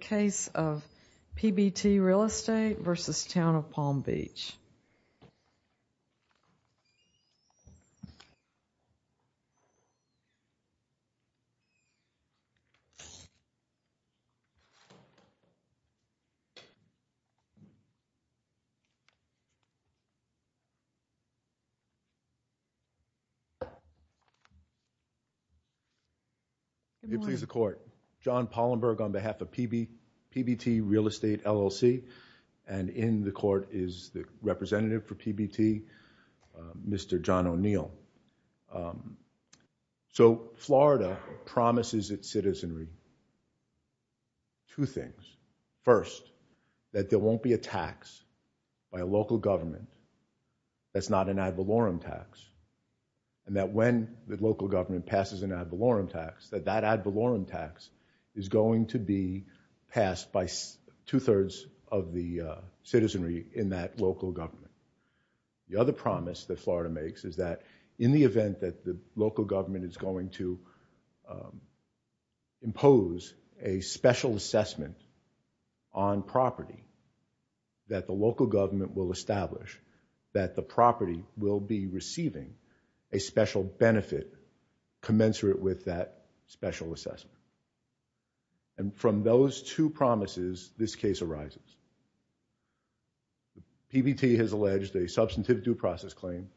case of PBT Real Estate v. Town of Palm Beach. v. Town of Palm Beach case of PBT Real Estate v. Town of Palm Beach. is the representative for PBT, Mr. John O'Neill. So Florida promises its citizenry two things. First, that there won't be a tax by a local government that's not an ad valorem tax, and that when the local government passes an ad valorem tax, that that ad valorem tax is of the citizenry in that local government. The other promise that Florida makes is that in the event that the local government is going to impose a special assessment on property, that the local government will establish that the property will be receiving a special benefit commensurate with that special assessment. And from those two promises, this case arises. PBT has alleged a substantive due process claim,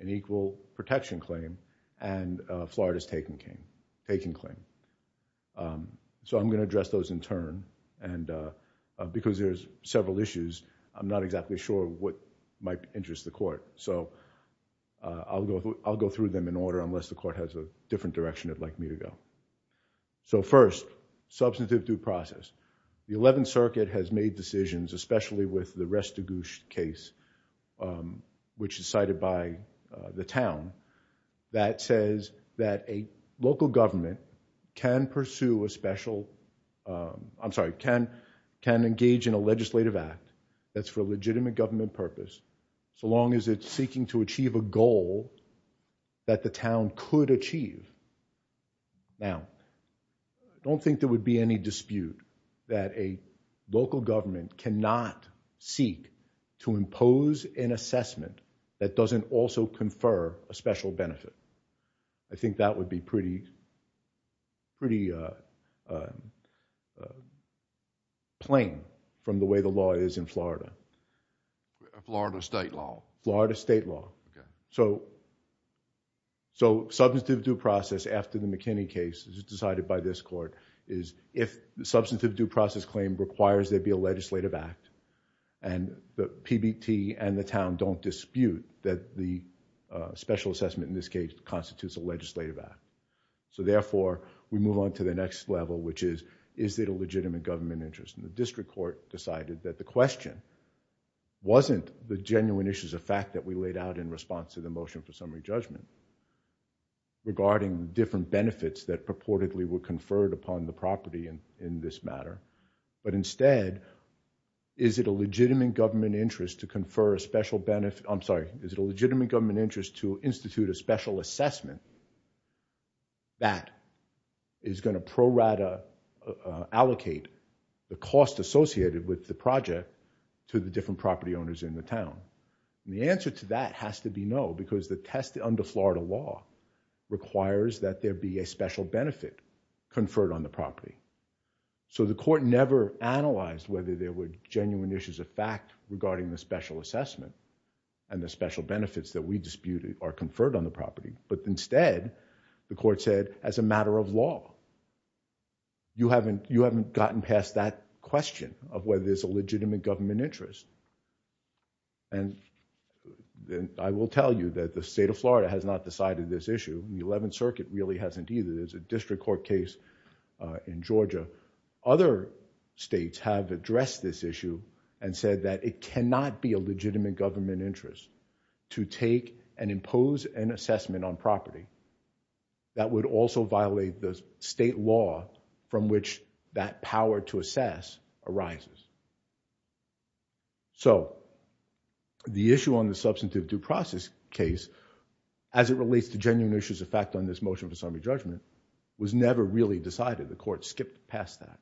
an equal protection claim, and Florida's taking claim. So I'm going to address those in turn, and because there's several issues, I'm not exactly sure what might interest the court. So I'll go through them in order, unless the court has a different direction it'd like me to go. So first, substantive due process. The 11th Circuit has made decisions, especially with the Restagouche case, which is cited by the town, that says that a local government can pursue a special, I'm sorry, can engage in a legislative act that's for legitimate government purpose so long as it's seeking to achieve a goal that the town could achieve. Now, I don't think there would be any dispute that a local government cannot seek to impose an assessment that doesn't also confer a special benefit. I think that would be pretty plain from the way the law is in Florida. A Florida state law? Florida state law. So substantive due process after the McKinney case, as decided by this court, is if the substantive due process claim requires there be a legislative act, and the PBT and the town don't dispute that the special assessment in this case constitutes a legislative act. So therefore, we move on to the next level, which is, is it a legitimate government interest? And the district court decided that the question wasn't the genuine issues of fact that we laid out in response to the motion for summary judgment, regarding different benefits that purportedly were conferred upon the property in this matter, but instead, is it a legitimate government interest to confer a special benefit? I'm sorry, is it a legitimate government interest to institute a special assessment that is going to pro rata allocate the cost associated with the project to the different property owners in the town? The answer to that has to be no, because the test under Florida law requires that there be a special benefit conferred on the property. So the court never analyzed whether there were genuine issues of fact regarding the special assessment and the special benefits that we disputed are conferred on the property, but instead, the court said, as a matter of law, you haven't gotten past that question of whether there's a legitimate government interest. And I will tell you that the state of Florida has not decided this issue. The 11th Circuit really hasn't either. There's a district court case in Georgia. Other states have addressed this issue and said that it cannot be a legitimate government interest to take and impose an assessment on property that would also violate the state law from which that power to assess arises. So the issue on the substantive due process case, as it relates to genuine issues of fact on this motion for summary judgment, was never really decided. The court skipped past that.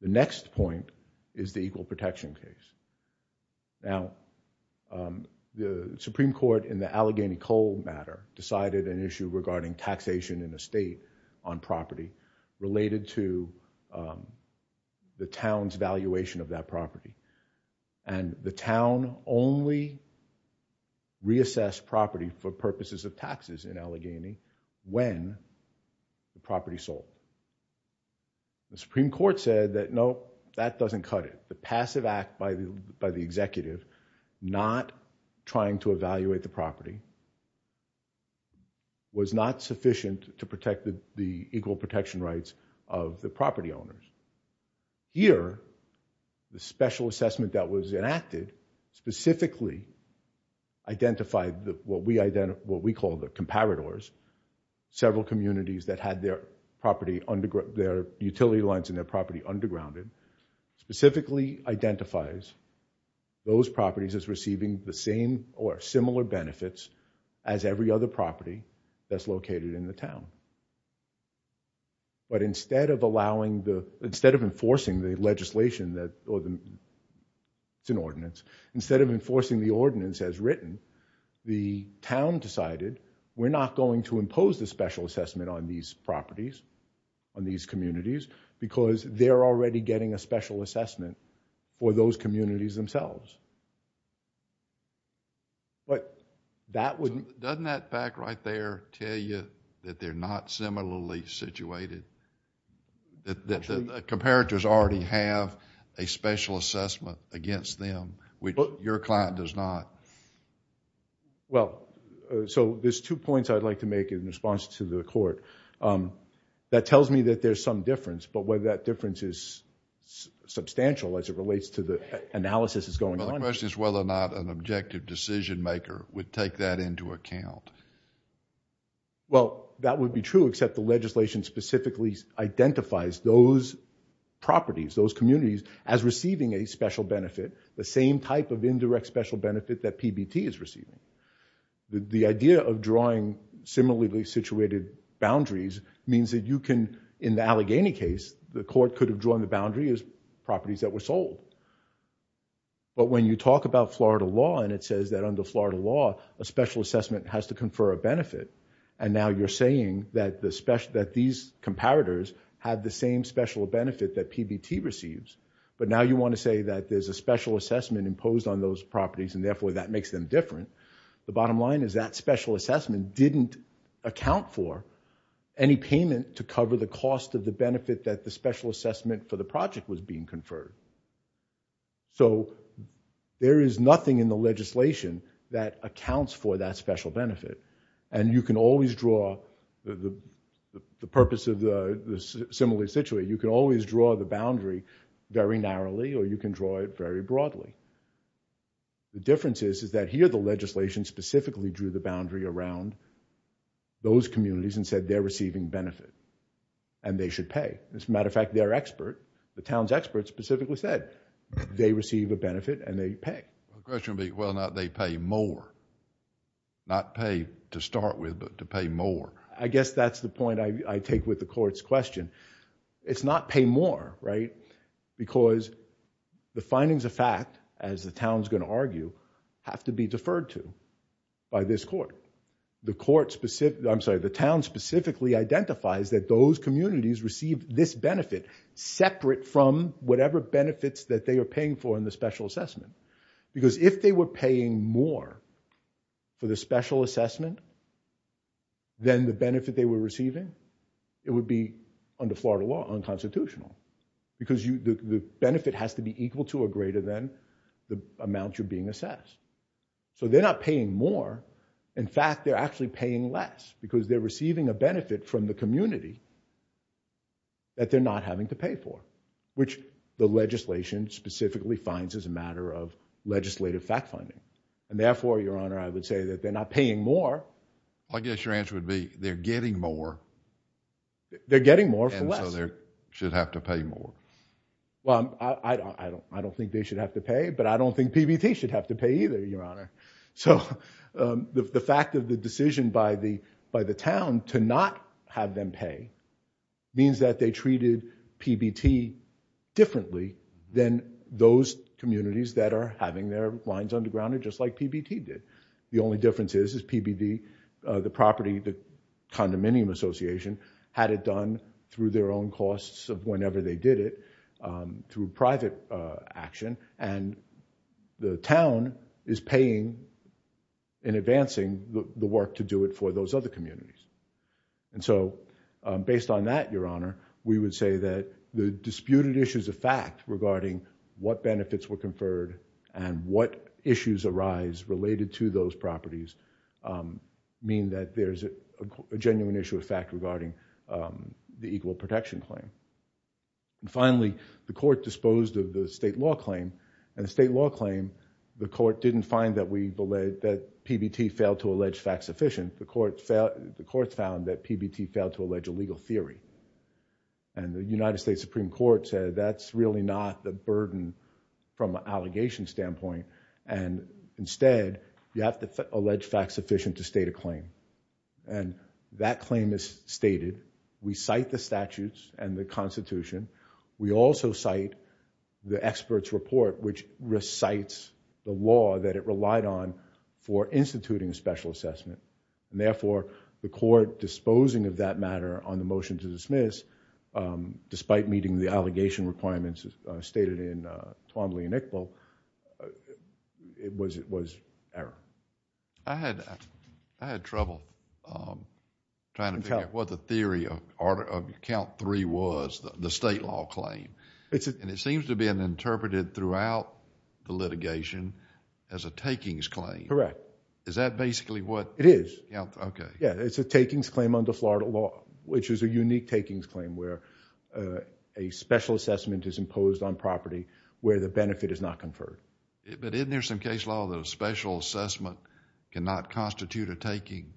The next point is the equal protection case. Now, the Supreme Court in the Allegheny cold matter decided an issue regarding taxation in a state on property related to the town's valuation of that property. And the town only reassessed property for purposes of taxes in Allegheny when the property sold. The Supreme Court said that, no, that doesn't cut it. The passive act by the by the executive not trying to evaluate the property was not sufficient to protect the equal protection rights of the property owners. Here, the special assessment that was enacted specifically identified what we identify, what we call the comparators, several communities that had their property under their utility lines and their property undergrounded specifically identifies those properties as receiving the same or similar benefits as every other property that's located in the town. But instead of allowing the instead of enforcing the legislation that or the ordinance, instead of enforcing the ordinance as written, the town decided we're not going to impose the special assessment on these properties, on these communities, because they're already getting a special assessment for those communities themselves. But that wouldn't... Doesn't that fact right there tell you that they're not similarly situated? That the comparators already have a special assessment against them, which your client does not? Well, so there's two points I'd like to make in response to the court. That tells me that there's some difference, but whether that difference is substantial as it relates to the analysis that's going on. Well, the question is whether or not an objective decision maker would take that into account. Well, that would be true, except the legislation specifically identifies those properties, those communities as receiving a special benefit, the same type of indirect special benefit that PBT is receiving. The idea of drawing similarly situated boundaries means that you can, in the Allegheny case, the court could have drawn the boundary as properties that were sold. But when you talk about Florida law and it says that under Florida law, a special assessment has to confer a benefit, and now you're saying that these comparators have the same special benefit that PBT receives. But now you want to say that there's a special assessment imposed on those properties and therefore that makes them different. The bottom line is that special assessment didn't account for any payment to cover the cost of the benefit that the special assessment for the project was being conferred. So there is nothing in the legislation that accounts for that special benefit. And you can always draw the purpose of the similarly situated, you can always draw the boundary very narrowly or you can draw it very broadly. The difference is that here the legislation specifically drew the boundary around those communities and said they're receiving benefit and they should pay. As a matter of fact, their expert, the town's expert specifically said, they receive a benefit and they pay. The question would be whether or not they pay more. Not pay to start with, but to pay more. I guess that's the point I take with the court's question. It's not pay more, right? Because the findings of fact, as the town's going to argue, have to be deferred to by this court. The town specifically identifies that those communities receive this benefit separate from whatever benefits that they are paying for in the special assessment. Because if they were paying more for the special assessment than the benefit they were receiving, it would be under Florida law unconstitutional. Because the benefit has to be equal to or greater than the amount you're being assessed. So they're not paying more. In fact, they're actually paying less because they're receiving a benefit from the community that they're not having to pay for, which the legislation specifically finds is a matter of legislative fact-finding. And therefore, Your Honor, I would say that they're not paying more. I guess your answer would be they're getting more. They're getting more for less. And so they should have to pay more. Well, I don't think they should have to pay, but I don't think PBT should have to pay either, Your Honor. So the fact of the decision by the town to not have them pay means that they treated PBT differently than those communities that are having their lines undergrounded just like PBT did. The only difference is PBT, the property, the condominium association, had it done through their own costs of whenever they did it through private action. And the town is paying and advancing the work to do it for those other communities. And so based on that, Your Honor, we would say that the disputed issues of fact regarding what benefits were conferred and what issues arise related to those properties mean that there's a genuine issue of fact regarding the equal protection claim. And finally, the court disposed of the state law claim. And the state law claim, the court didn't find that PBT failed to allege fact sufficient. The court found that PBT failed to allege a legal theory. And the United States Supreme Court said that's really not the burden from an allegation standpoint. And instead, you have to allege fact sufficient to state a claim. And that claim is stated. We cite the statutes and the Constitution. We also cite the expert's report, which recites the law that it relied on for instituting a special assessment. And therefore, the court disposing of that matter on the motion to dismiss, despite meeting the allegation requirements stated in Twombly and Iqbal, was error. I had trouble trying to figure out what the theory of count three was, the state law claim. And it seems to have been interpreted throughout the litigation as a takings claim. Correct. Is that basically what- It is. Okay. Yeah, it's a takings claim under Florida law, which is a unique takings claim where a special assessment is imposed on property where the benefit is not conferred. But isn't there some case law that a special assessment cannot constitute a taking?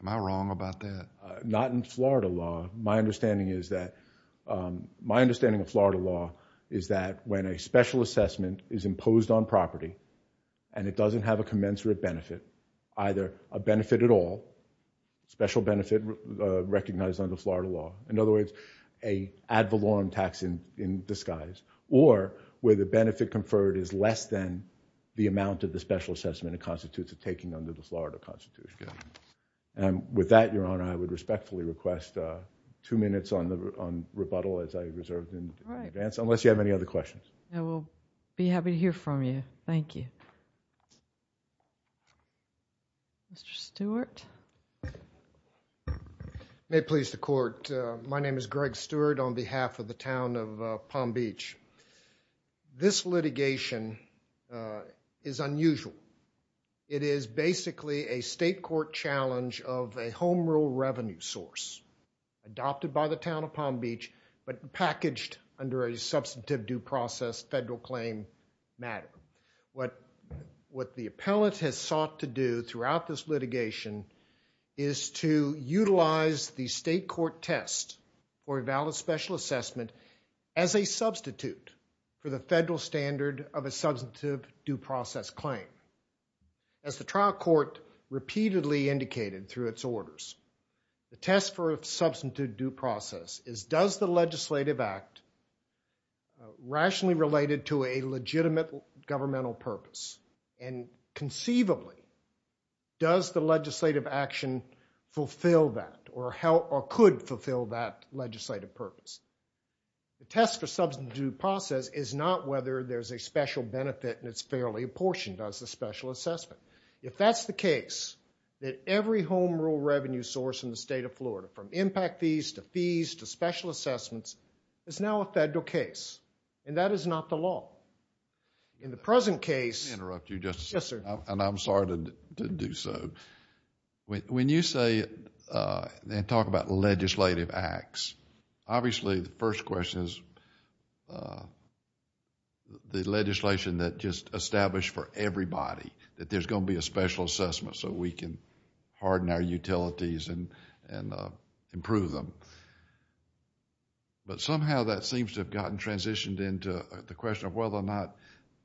Am I wrong about that? Not in Florida law. My understanding of Florida law is that when a special assessment is imposed on property and it doesn't have a commensurate benefit, either a benefit at all, special benefit recognized under Florida law, in other words, an ad valorem tax in disguise, or where the benefit conferred is less than the amount of the special assessment it constitutes a taking under the Florida Constitution. And with that, Your Honor, I would respectfully request two minutes on rebuttal, as I reserved in advance, unless you have any other questions. I will be happy to hear from you. Thank you. Mr. Stewart. May it please the Court. My name is Greg Stewart on behalf of the Town of Palm Beach. This litigation is unusual. It is basically a state court challenge of a home rule revenue source adopted by the Town of Palm Beach but packaged under a substantive due process federal claim matter. What the appellate has sought to do throughout this litigation is to utilize the state court test for a valid special assessment as a substitute for the federal standard of a substantive due process claim. As the trial court repeatedly indicated through its orders, the test for a substantive due process is, does the legislative act rationally related to a legitimate governmental purpose? And conceivably, does the legislative action fulfill that or could fulfill that legislative purpose? The test for substantive due process is not whether there's a special benefit and it's fairly apportioned as a special assessment. If that's the case, then every home rule revenue source in the State of Florida from impact fees to fees to special assessments is now a federal case and that is not the law. In the present case. Let me interrupt you just a second. Yes, sir. And I'm sorry to do so. When you say and talk about legislative acts, obviously the first question is the legislation that just established for everybody that there's going to be a special assessment so we can harden our utilities and improve them. But somehow that seems to have gotten transitioned into the question of whether or not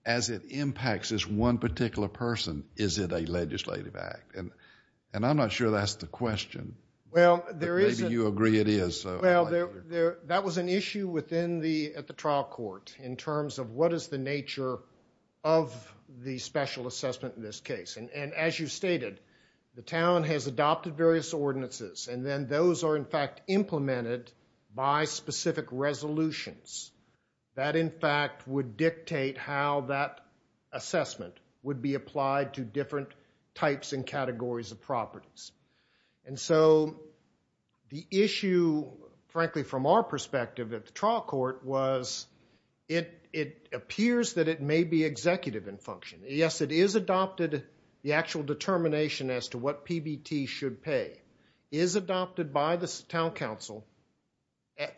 as it impacts this one particular person, is it a legislative act? And I'm not sure that's the question. Well, there is. Maybe you agree it is. Well, that was an issue within the, at the trial court in terms of what is the nature of the special assessment in this case. And as you stated, the town has adopted various ordinances and then those are in fact implemented by specific resolutions that in fact would dictate how that assessment would be applied to different types and categories of properties. And so the issue, frankly from our perspective at the trial court, was it appears that it may be executive in function. Yes, it is adopted, the actual determination as to what PBT should pay is adopted by the town council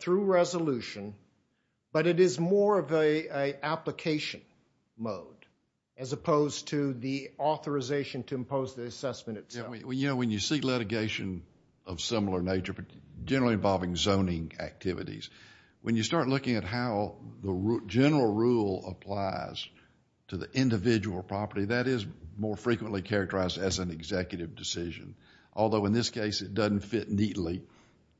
through resolution, but it is more of an application mode as opposed to the authorization to impose the assessment itself. You know, when you see litigation of similar nature, generally involving zoning activities, when you start looking at how the general rule applies to the individual property, that is more frequently characterized as an executive decision, although in this case it doesn't fit neatly.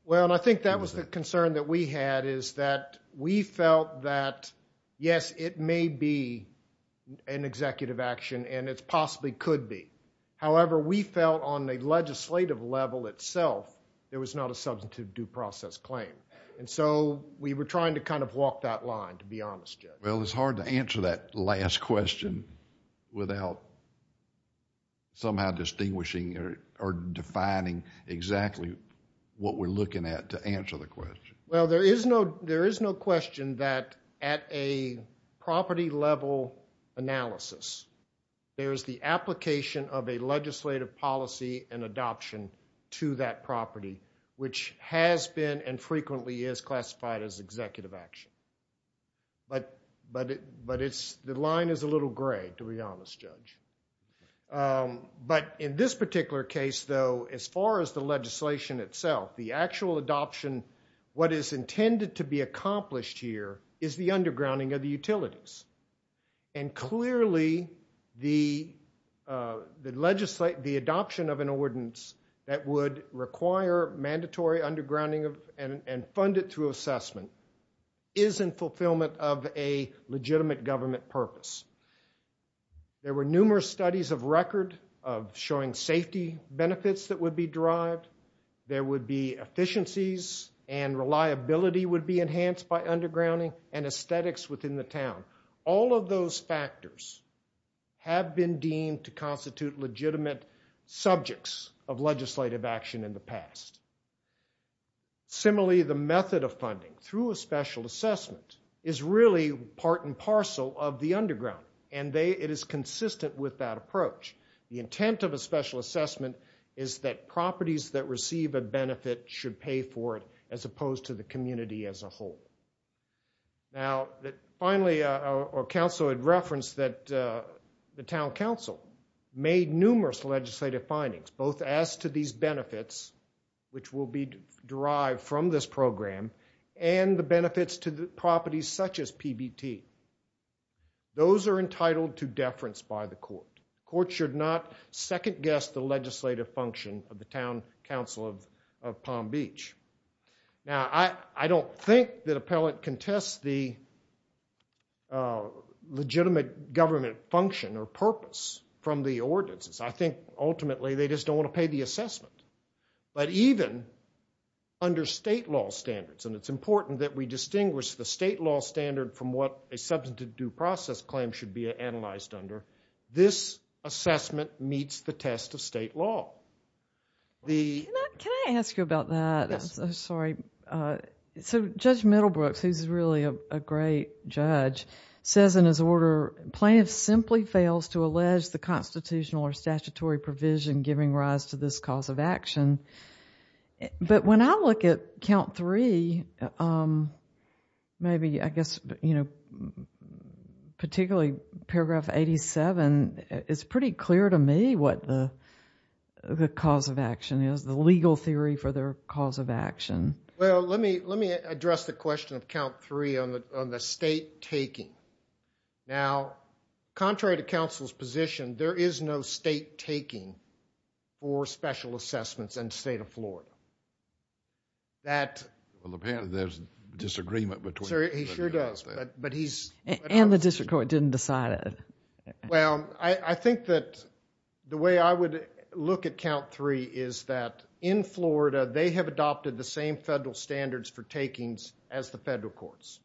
Well, I think that was the concern that we had is that we felt that, yes, it may be an executive action and it possibly could be. However, we felt on a legislative level itself, there was not a substantive due process claim. And so we were trying to kind of walk that line, to be honest, Judge. Well, it's hard to answer that last question without somehow distinguishing or defining exactly what we're looking at to answer the question. Well, there is no question that at a property level analysis, there is the application of a legislative policy and adoption to that property, which has been and frequently is classified as executive action. But the line is a little gray, to be honest, Judge. But in this particular case, though, as far as the legislation itself, the actual adoption, what is intended to be accomplished here, is the undergrounding of the utilities. And clearly the adoption of an ordinance that would require mandatory undergrounding and fund it through assessment is in fulfillment of a legitimate government purpose. There were numerous studies of record of showing safety benefits that would be derived. There would be efficiencies and reliability would be enhanced by undergrounding and aesthetics within the town. All of those factors have been deemed to constitute legitimate subjects of legislative action in the past. Similarly, the method of funding through a special assessment is really part and parcel of the underground, and it is consistent with that approach. The intent of a special assessment is that properties that receive a benefit should pay for it as opposed to the community as a whole. Now, finally, our counsel had referenced that the town council made numerous legislative findings, both as to these benefits, which will be derived from this program, and the benefits to the properties such as PBT. Those are entitled to deference by the court. The court should not second-guess the legislative function of the town council of Palm Beach. Now, I don't think that appellate contests the legitimate government function or purpose from the ordinances. I think ultimately they just don't want to pay the assessment. But even under state law standards, and it's important that we distinguish the state law standard from what a substantive due process claim should be analyzed under, this assessment meets the test of state law. Can I ask you about that? Yes. Sorry. So Judge Middlebrooks, who's really a great judge, says in his order, plaintiff simply fails to allege the constitutional or statutory provision giving rise to this cause of action. But when I look at count three, maybe, I guess, particularly paragraph 87, it's pretty clear to me what the cause of action is, the legal theory for the cause of action. Well, let me address the question of count three on the state taking. Now, contrary to counsel's position, there is no state taking for special assessments in the state of Florida. Well, apparently there's a disagreement between the two. He sure does. And the district court didn't decide it. Well, I think that the way I would look at count three is that in Florida, they have adopted the same federal standards for takings as the federal courts.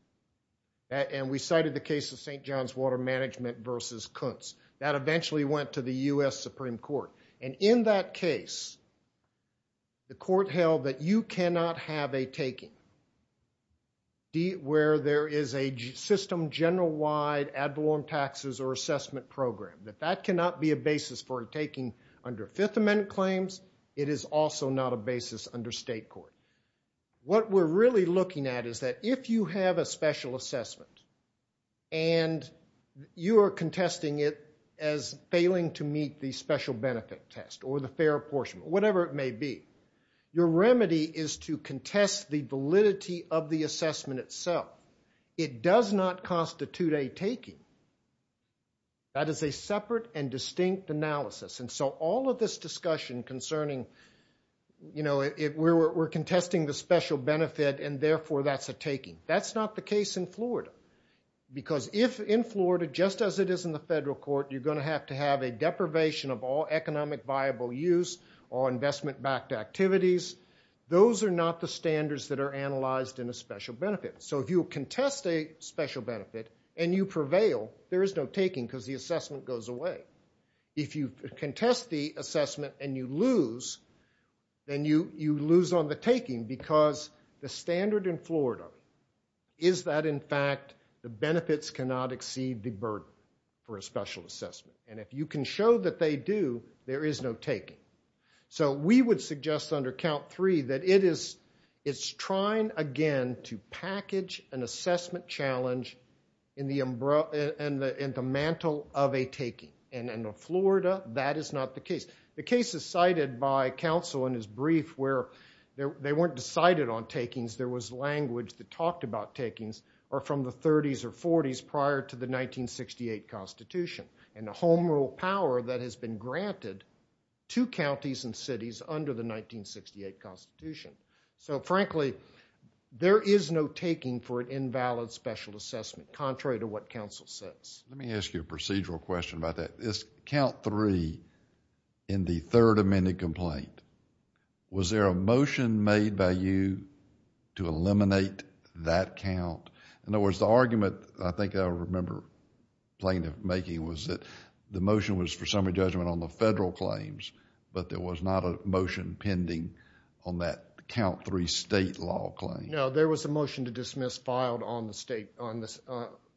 And we cited the case of St. John's Water Management versus Kuntz. That eventually went to the U.S. Supreme Court. And in that case, the court held that you cannot have a taking where there is a system general-wide ad valorem taxes or assessment program, that that cannot be a basis for a taking under Fifth Amendment claims. It is also not a basis under state court. What we're really looking at is that if you have a special assessment and you are contesting it as failing to meet the special benefit test or the fair apportionment, whatever it may be, your remedy is to contest the validity of the assessment itself. It does not constitute a taking. That is a separate and distinct analysis. And so all of this discussion concerning, you know, we're contesting the special benefit and therefore that's a taking. That's not the case in Florida. Because if in Florida, just as it is in the federal court, you're going to have to have a deprivation of all economic viable use or investment-backed activities. Those are not the standards that are analyzed in a special benefit. So if you contest a special benefit and you prevail, there is no taking because the assessment goes away. If you contest the assessment and you lose, then you lose on the taking because the standard in Florida is that, in fact, the benefits cannot exceed the burden for a special assessment. And if you can show that they do, there is no taking. So we would suggest under count three that it is trying, again, to package an assessment challenge in the mantle of a taking. And in Florida, that is not the case. The case is cited by counsel in his brief where they weren't decided on takings. There was language that talked about takings from the 30s or 40s prior to the 1968 Constitution and the home rule power that has been granted to counties and cities under the 1968 Constitution. So, frankly, there is no taking for an invalid special assessment, contrary to what counsel says. Let me ask you a procedural question about that. It is count three in the third amended complaint. Was there a motion made by you to eliminate that count? In other words, the argument, I think I remember plaintiff making, was that the motion was for summary judgment on the federal claims, but there was not a motion pending on that count three state law claim. No, there was a motion to dismiss filed on the state.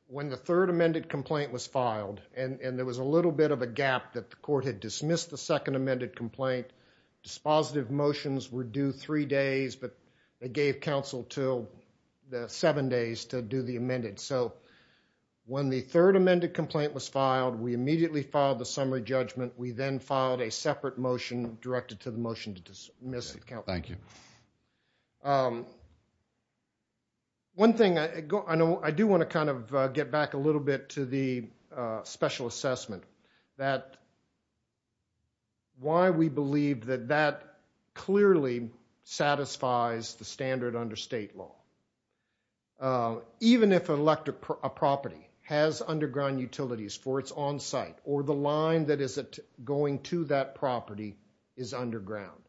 When the third amended complaint was filed, and there was a little bit of a gap that the court had dismissed the second amended complaint, dispositive motions were due three days, but they gave counsel seven days to do the amended. So when the third amended complaint was filed, we immediately filed the summary judgment. We then filed a separate motion directed to the motion to dismiss the count. Thank you. One thing I do want to kind of get back a little bit to the special assessment, that why we believe that that clearly satisfies the standard under state law. Even if a property has underground utilities for its own site, or the line that is going to that property is underground,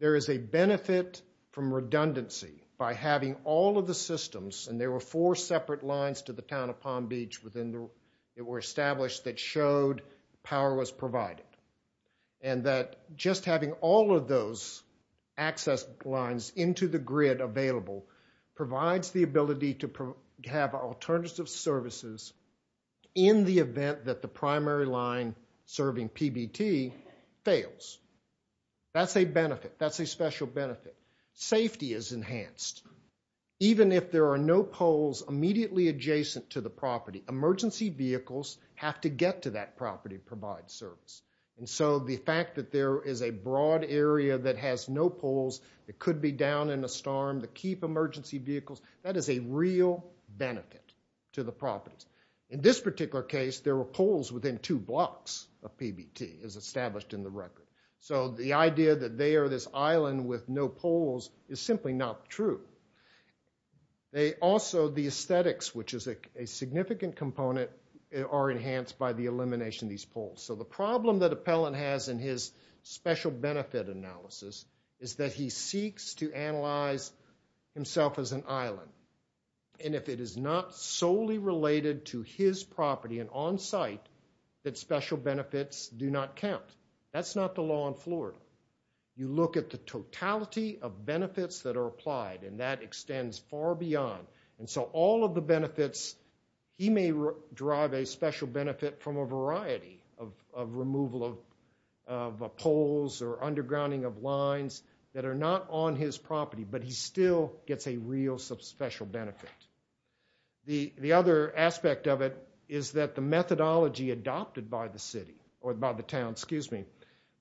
there is a benefit from redundancy by having all of the systems, and there were four separate lines to the town of Palm Beach that were established that showed power was provided, and that just having all of those access lines into the grid available provides the ability to have alternative services in the event that the primary line serving PBT fails. That's a benefit. That's a special benefit. Safety is enhanced. Even if there are no poles immediately adjacent to the property, emergency vehicles have to get to that property to provide service. And so the fact that there is a broad area that has no poles, it could be down in a storm to keep emergency vehicles, that is a real benefit to the properties. In this particular case, there were poles within two blocks of PBT, as established in the record. So the idea that they are this island with no poles is simply not true. They also, the aesthetics, which is a significant component, are enhanced by the elimination of these poles. So the problem that Appellant has in his special benefit analysis is that he seeks to analyze himself as an island. And if it is not solely related to his property and on site, that special benefits do not count. That's not the law in Florida. You look at the totality of benefits that are applied, and that extends far beyond. And so all of the benefits, he may derive a special benefit from a variety of removal of poles or undergrounding of lines that are not on his property, but he still gets a real special benefit. The other aspect of it is that the methodology adopted by the city, or by the town, excuse me,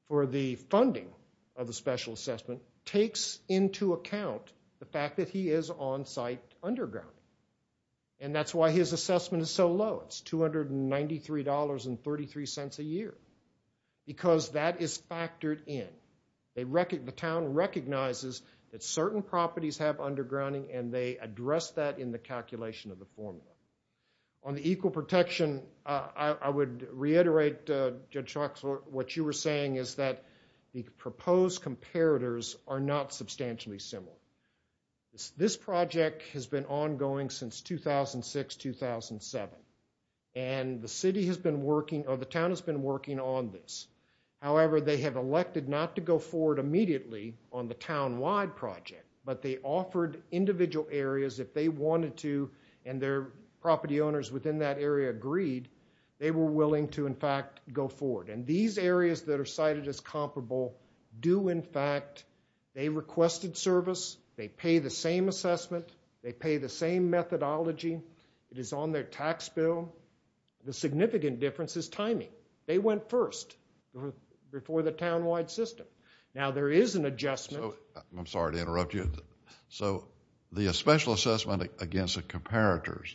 for the funding of the special assessment takes into account the fact that he is on site undergrounding. And that's why his assessment is so low. It's $293.33 a year, because that is factored in. The town recognizes that certain properties have undergrounding, and they address that in the calculation of the formula. On the equal protection, I would reiterate, Judge Schock, what you were saying is that the proposed comparators are not substantially similar. This project has been ongoing since 2006-2007, and the city has been working, or the town has been working on this. However, they have elected not to go forward immediately on the town-wide project, but they offered individual areas if they wanted to, and their property owners within that area agreed, they were willing to, in fact, go forward. And these areas that are cited as comparable do, in fact, they requested service. They pay the same assessment. They pay the same methodology. It is on their tax bill. The significant difference is timing. They went first before the town-wide system. Now, there is an adjustment. I'm sorry to interrupt you. The special assessment against the comparators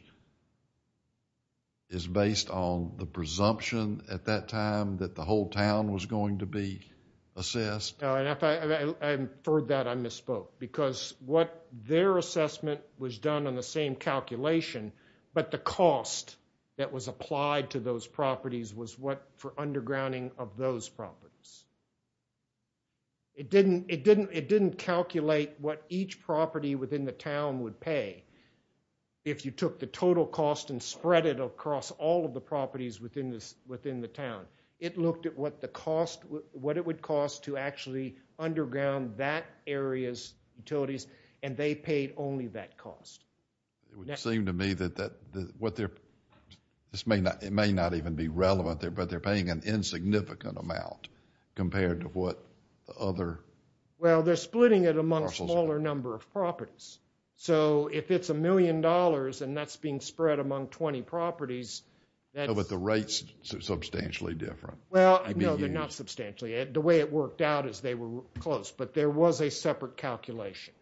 is based on the presumption at that time that the whole town was going to be assessed. I inferred that I misspoke, because what their assessment was done on the same calculation, but the cost that was applied to those properties was what, for undergrounding of those properties. It didn't calculate what each property within the town would pay. If you took the total cost and spread it across all of the properties within the town, it looked at what it would cost to actually underground that area's utilities, and they paid only that cost. It would seem to me that what they're, this may not even be relevant there, but they're paying an insignificant amount compared to what the other. Well, they're splitting it among a smaller number of properties. So, if it's a million dollars and that's being spread among 20 properties. But the rates are substantially different. Well, no, they're not substantially. The way it worked out is they were close, but there was a separate calculation.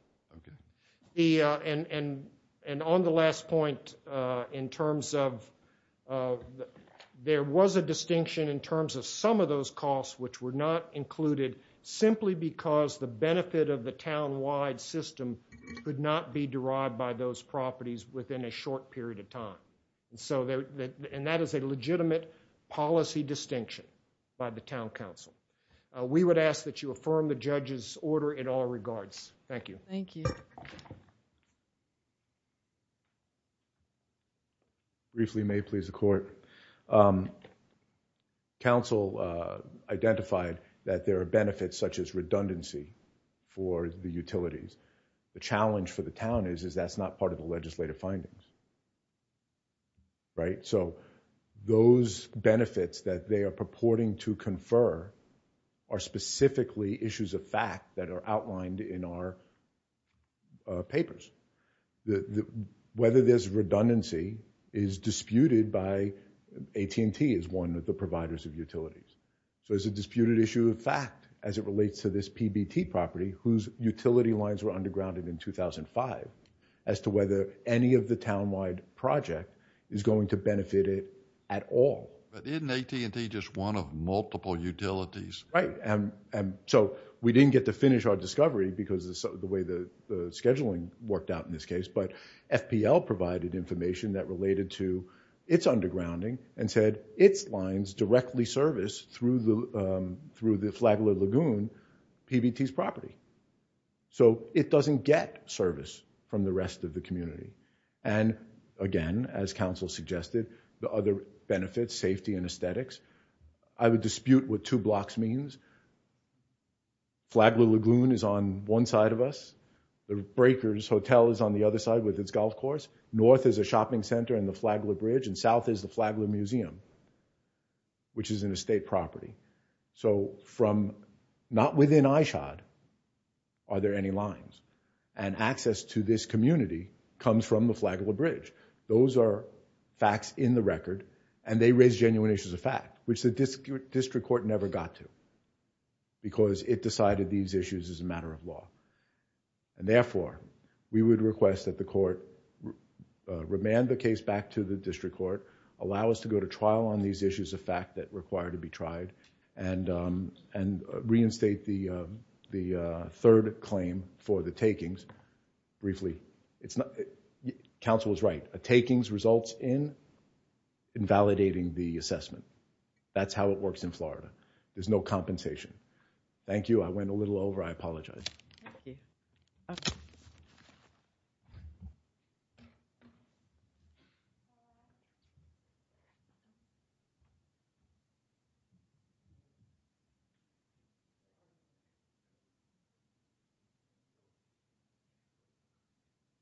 And on the last point, in terms of, there was a distinction in terms of some of those costs which were not included simply because the benefit of the town-wide system could not be derived by those properties within a short period of time. And that is a legitimate policy distinction by the town council. We would ask that you affirm the judge's order in all regards. Thank you. Thank you. Briefly may it please the court. Council identified that there are benefits such as redundancy for the utilities. The challenge for the town is that's not part of the legislative findings. Right? So, those benefits that they are purporting to confer are specifically issues of fact that are outlined in our papers. Whether there's redundancy is disputed by AT&T as one of the providers of utilities. So, it's a disputed issue of fact as it relates to this PBT property whose utility lines were undergrounded in 2005 as to whether any of the town-wide project is going to benefit it at all. But isn't AT&T just one of multiple utilities? Right. So, we didn't get to finish our discovery because of the way the scheduling worked out in this case. But FPL provided information that related to its undergrounding and said its lines directly service through the Flagler Lagoon PBT's property. And again, as council suggested, the other benefits, safety and aesthetics. I would dispute what two blocks means. Flagler Lagoon is on one side of us. The Breakers Hotel is on the other side with its golf course. North is a shopping center and the Flagler Bridge and south is the Flagler Museum which is an estate property. So, from not within ISHOD, are there any lines? And access to this community comes from the Flagler Bridge. Those are facts in the record and they raise genuine issues of fact which the district court never got to because it decided these issues as a matter of law. And therefore, we would request that the court remand the case back to the district court, allow us to go to trial on these issues of fact that require to be tried and reinstate the third claim for the takings briefly. Council is right. A takings results in invalidating the assessment. That's how it works in Florida. There's no compensation. I went a little over. I apologize. Thank you.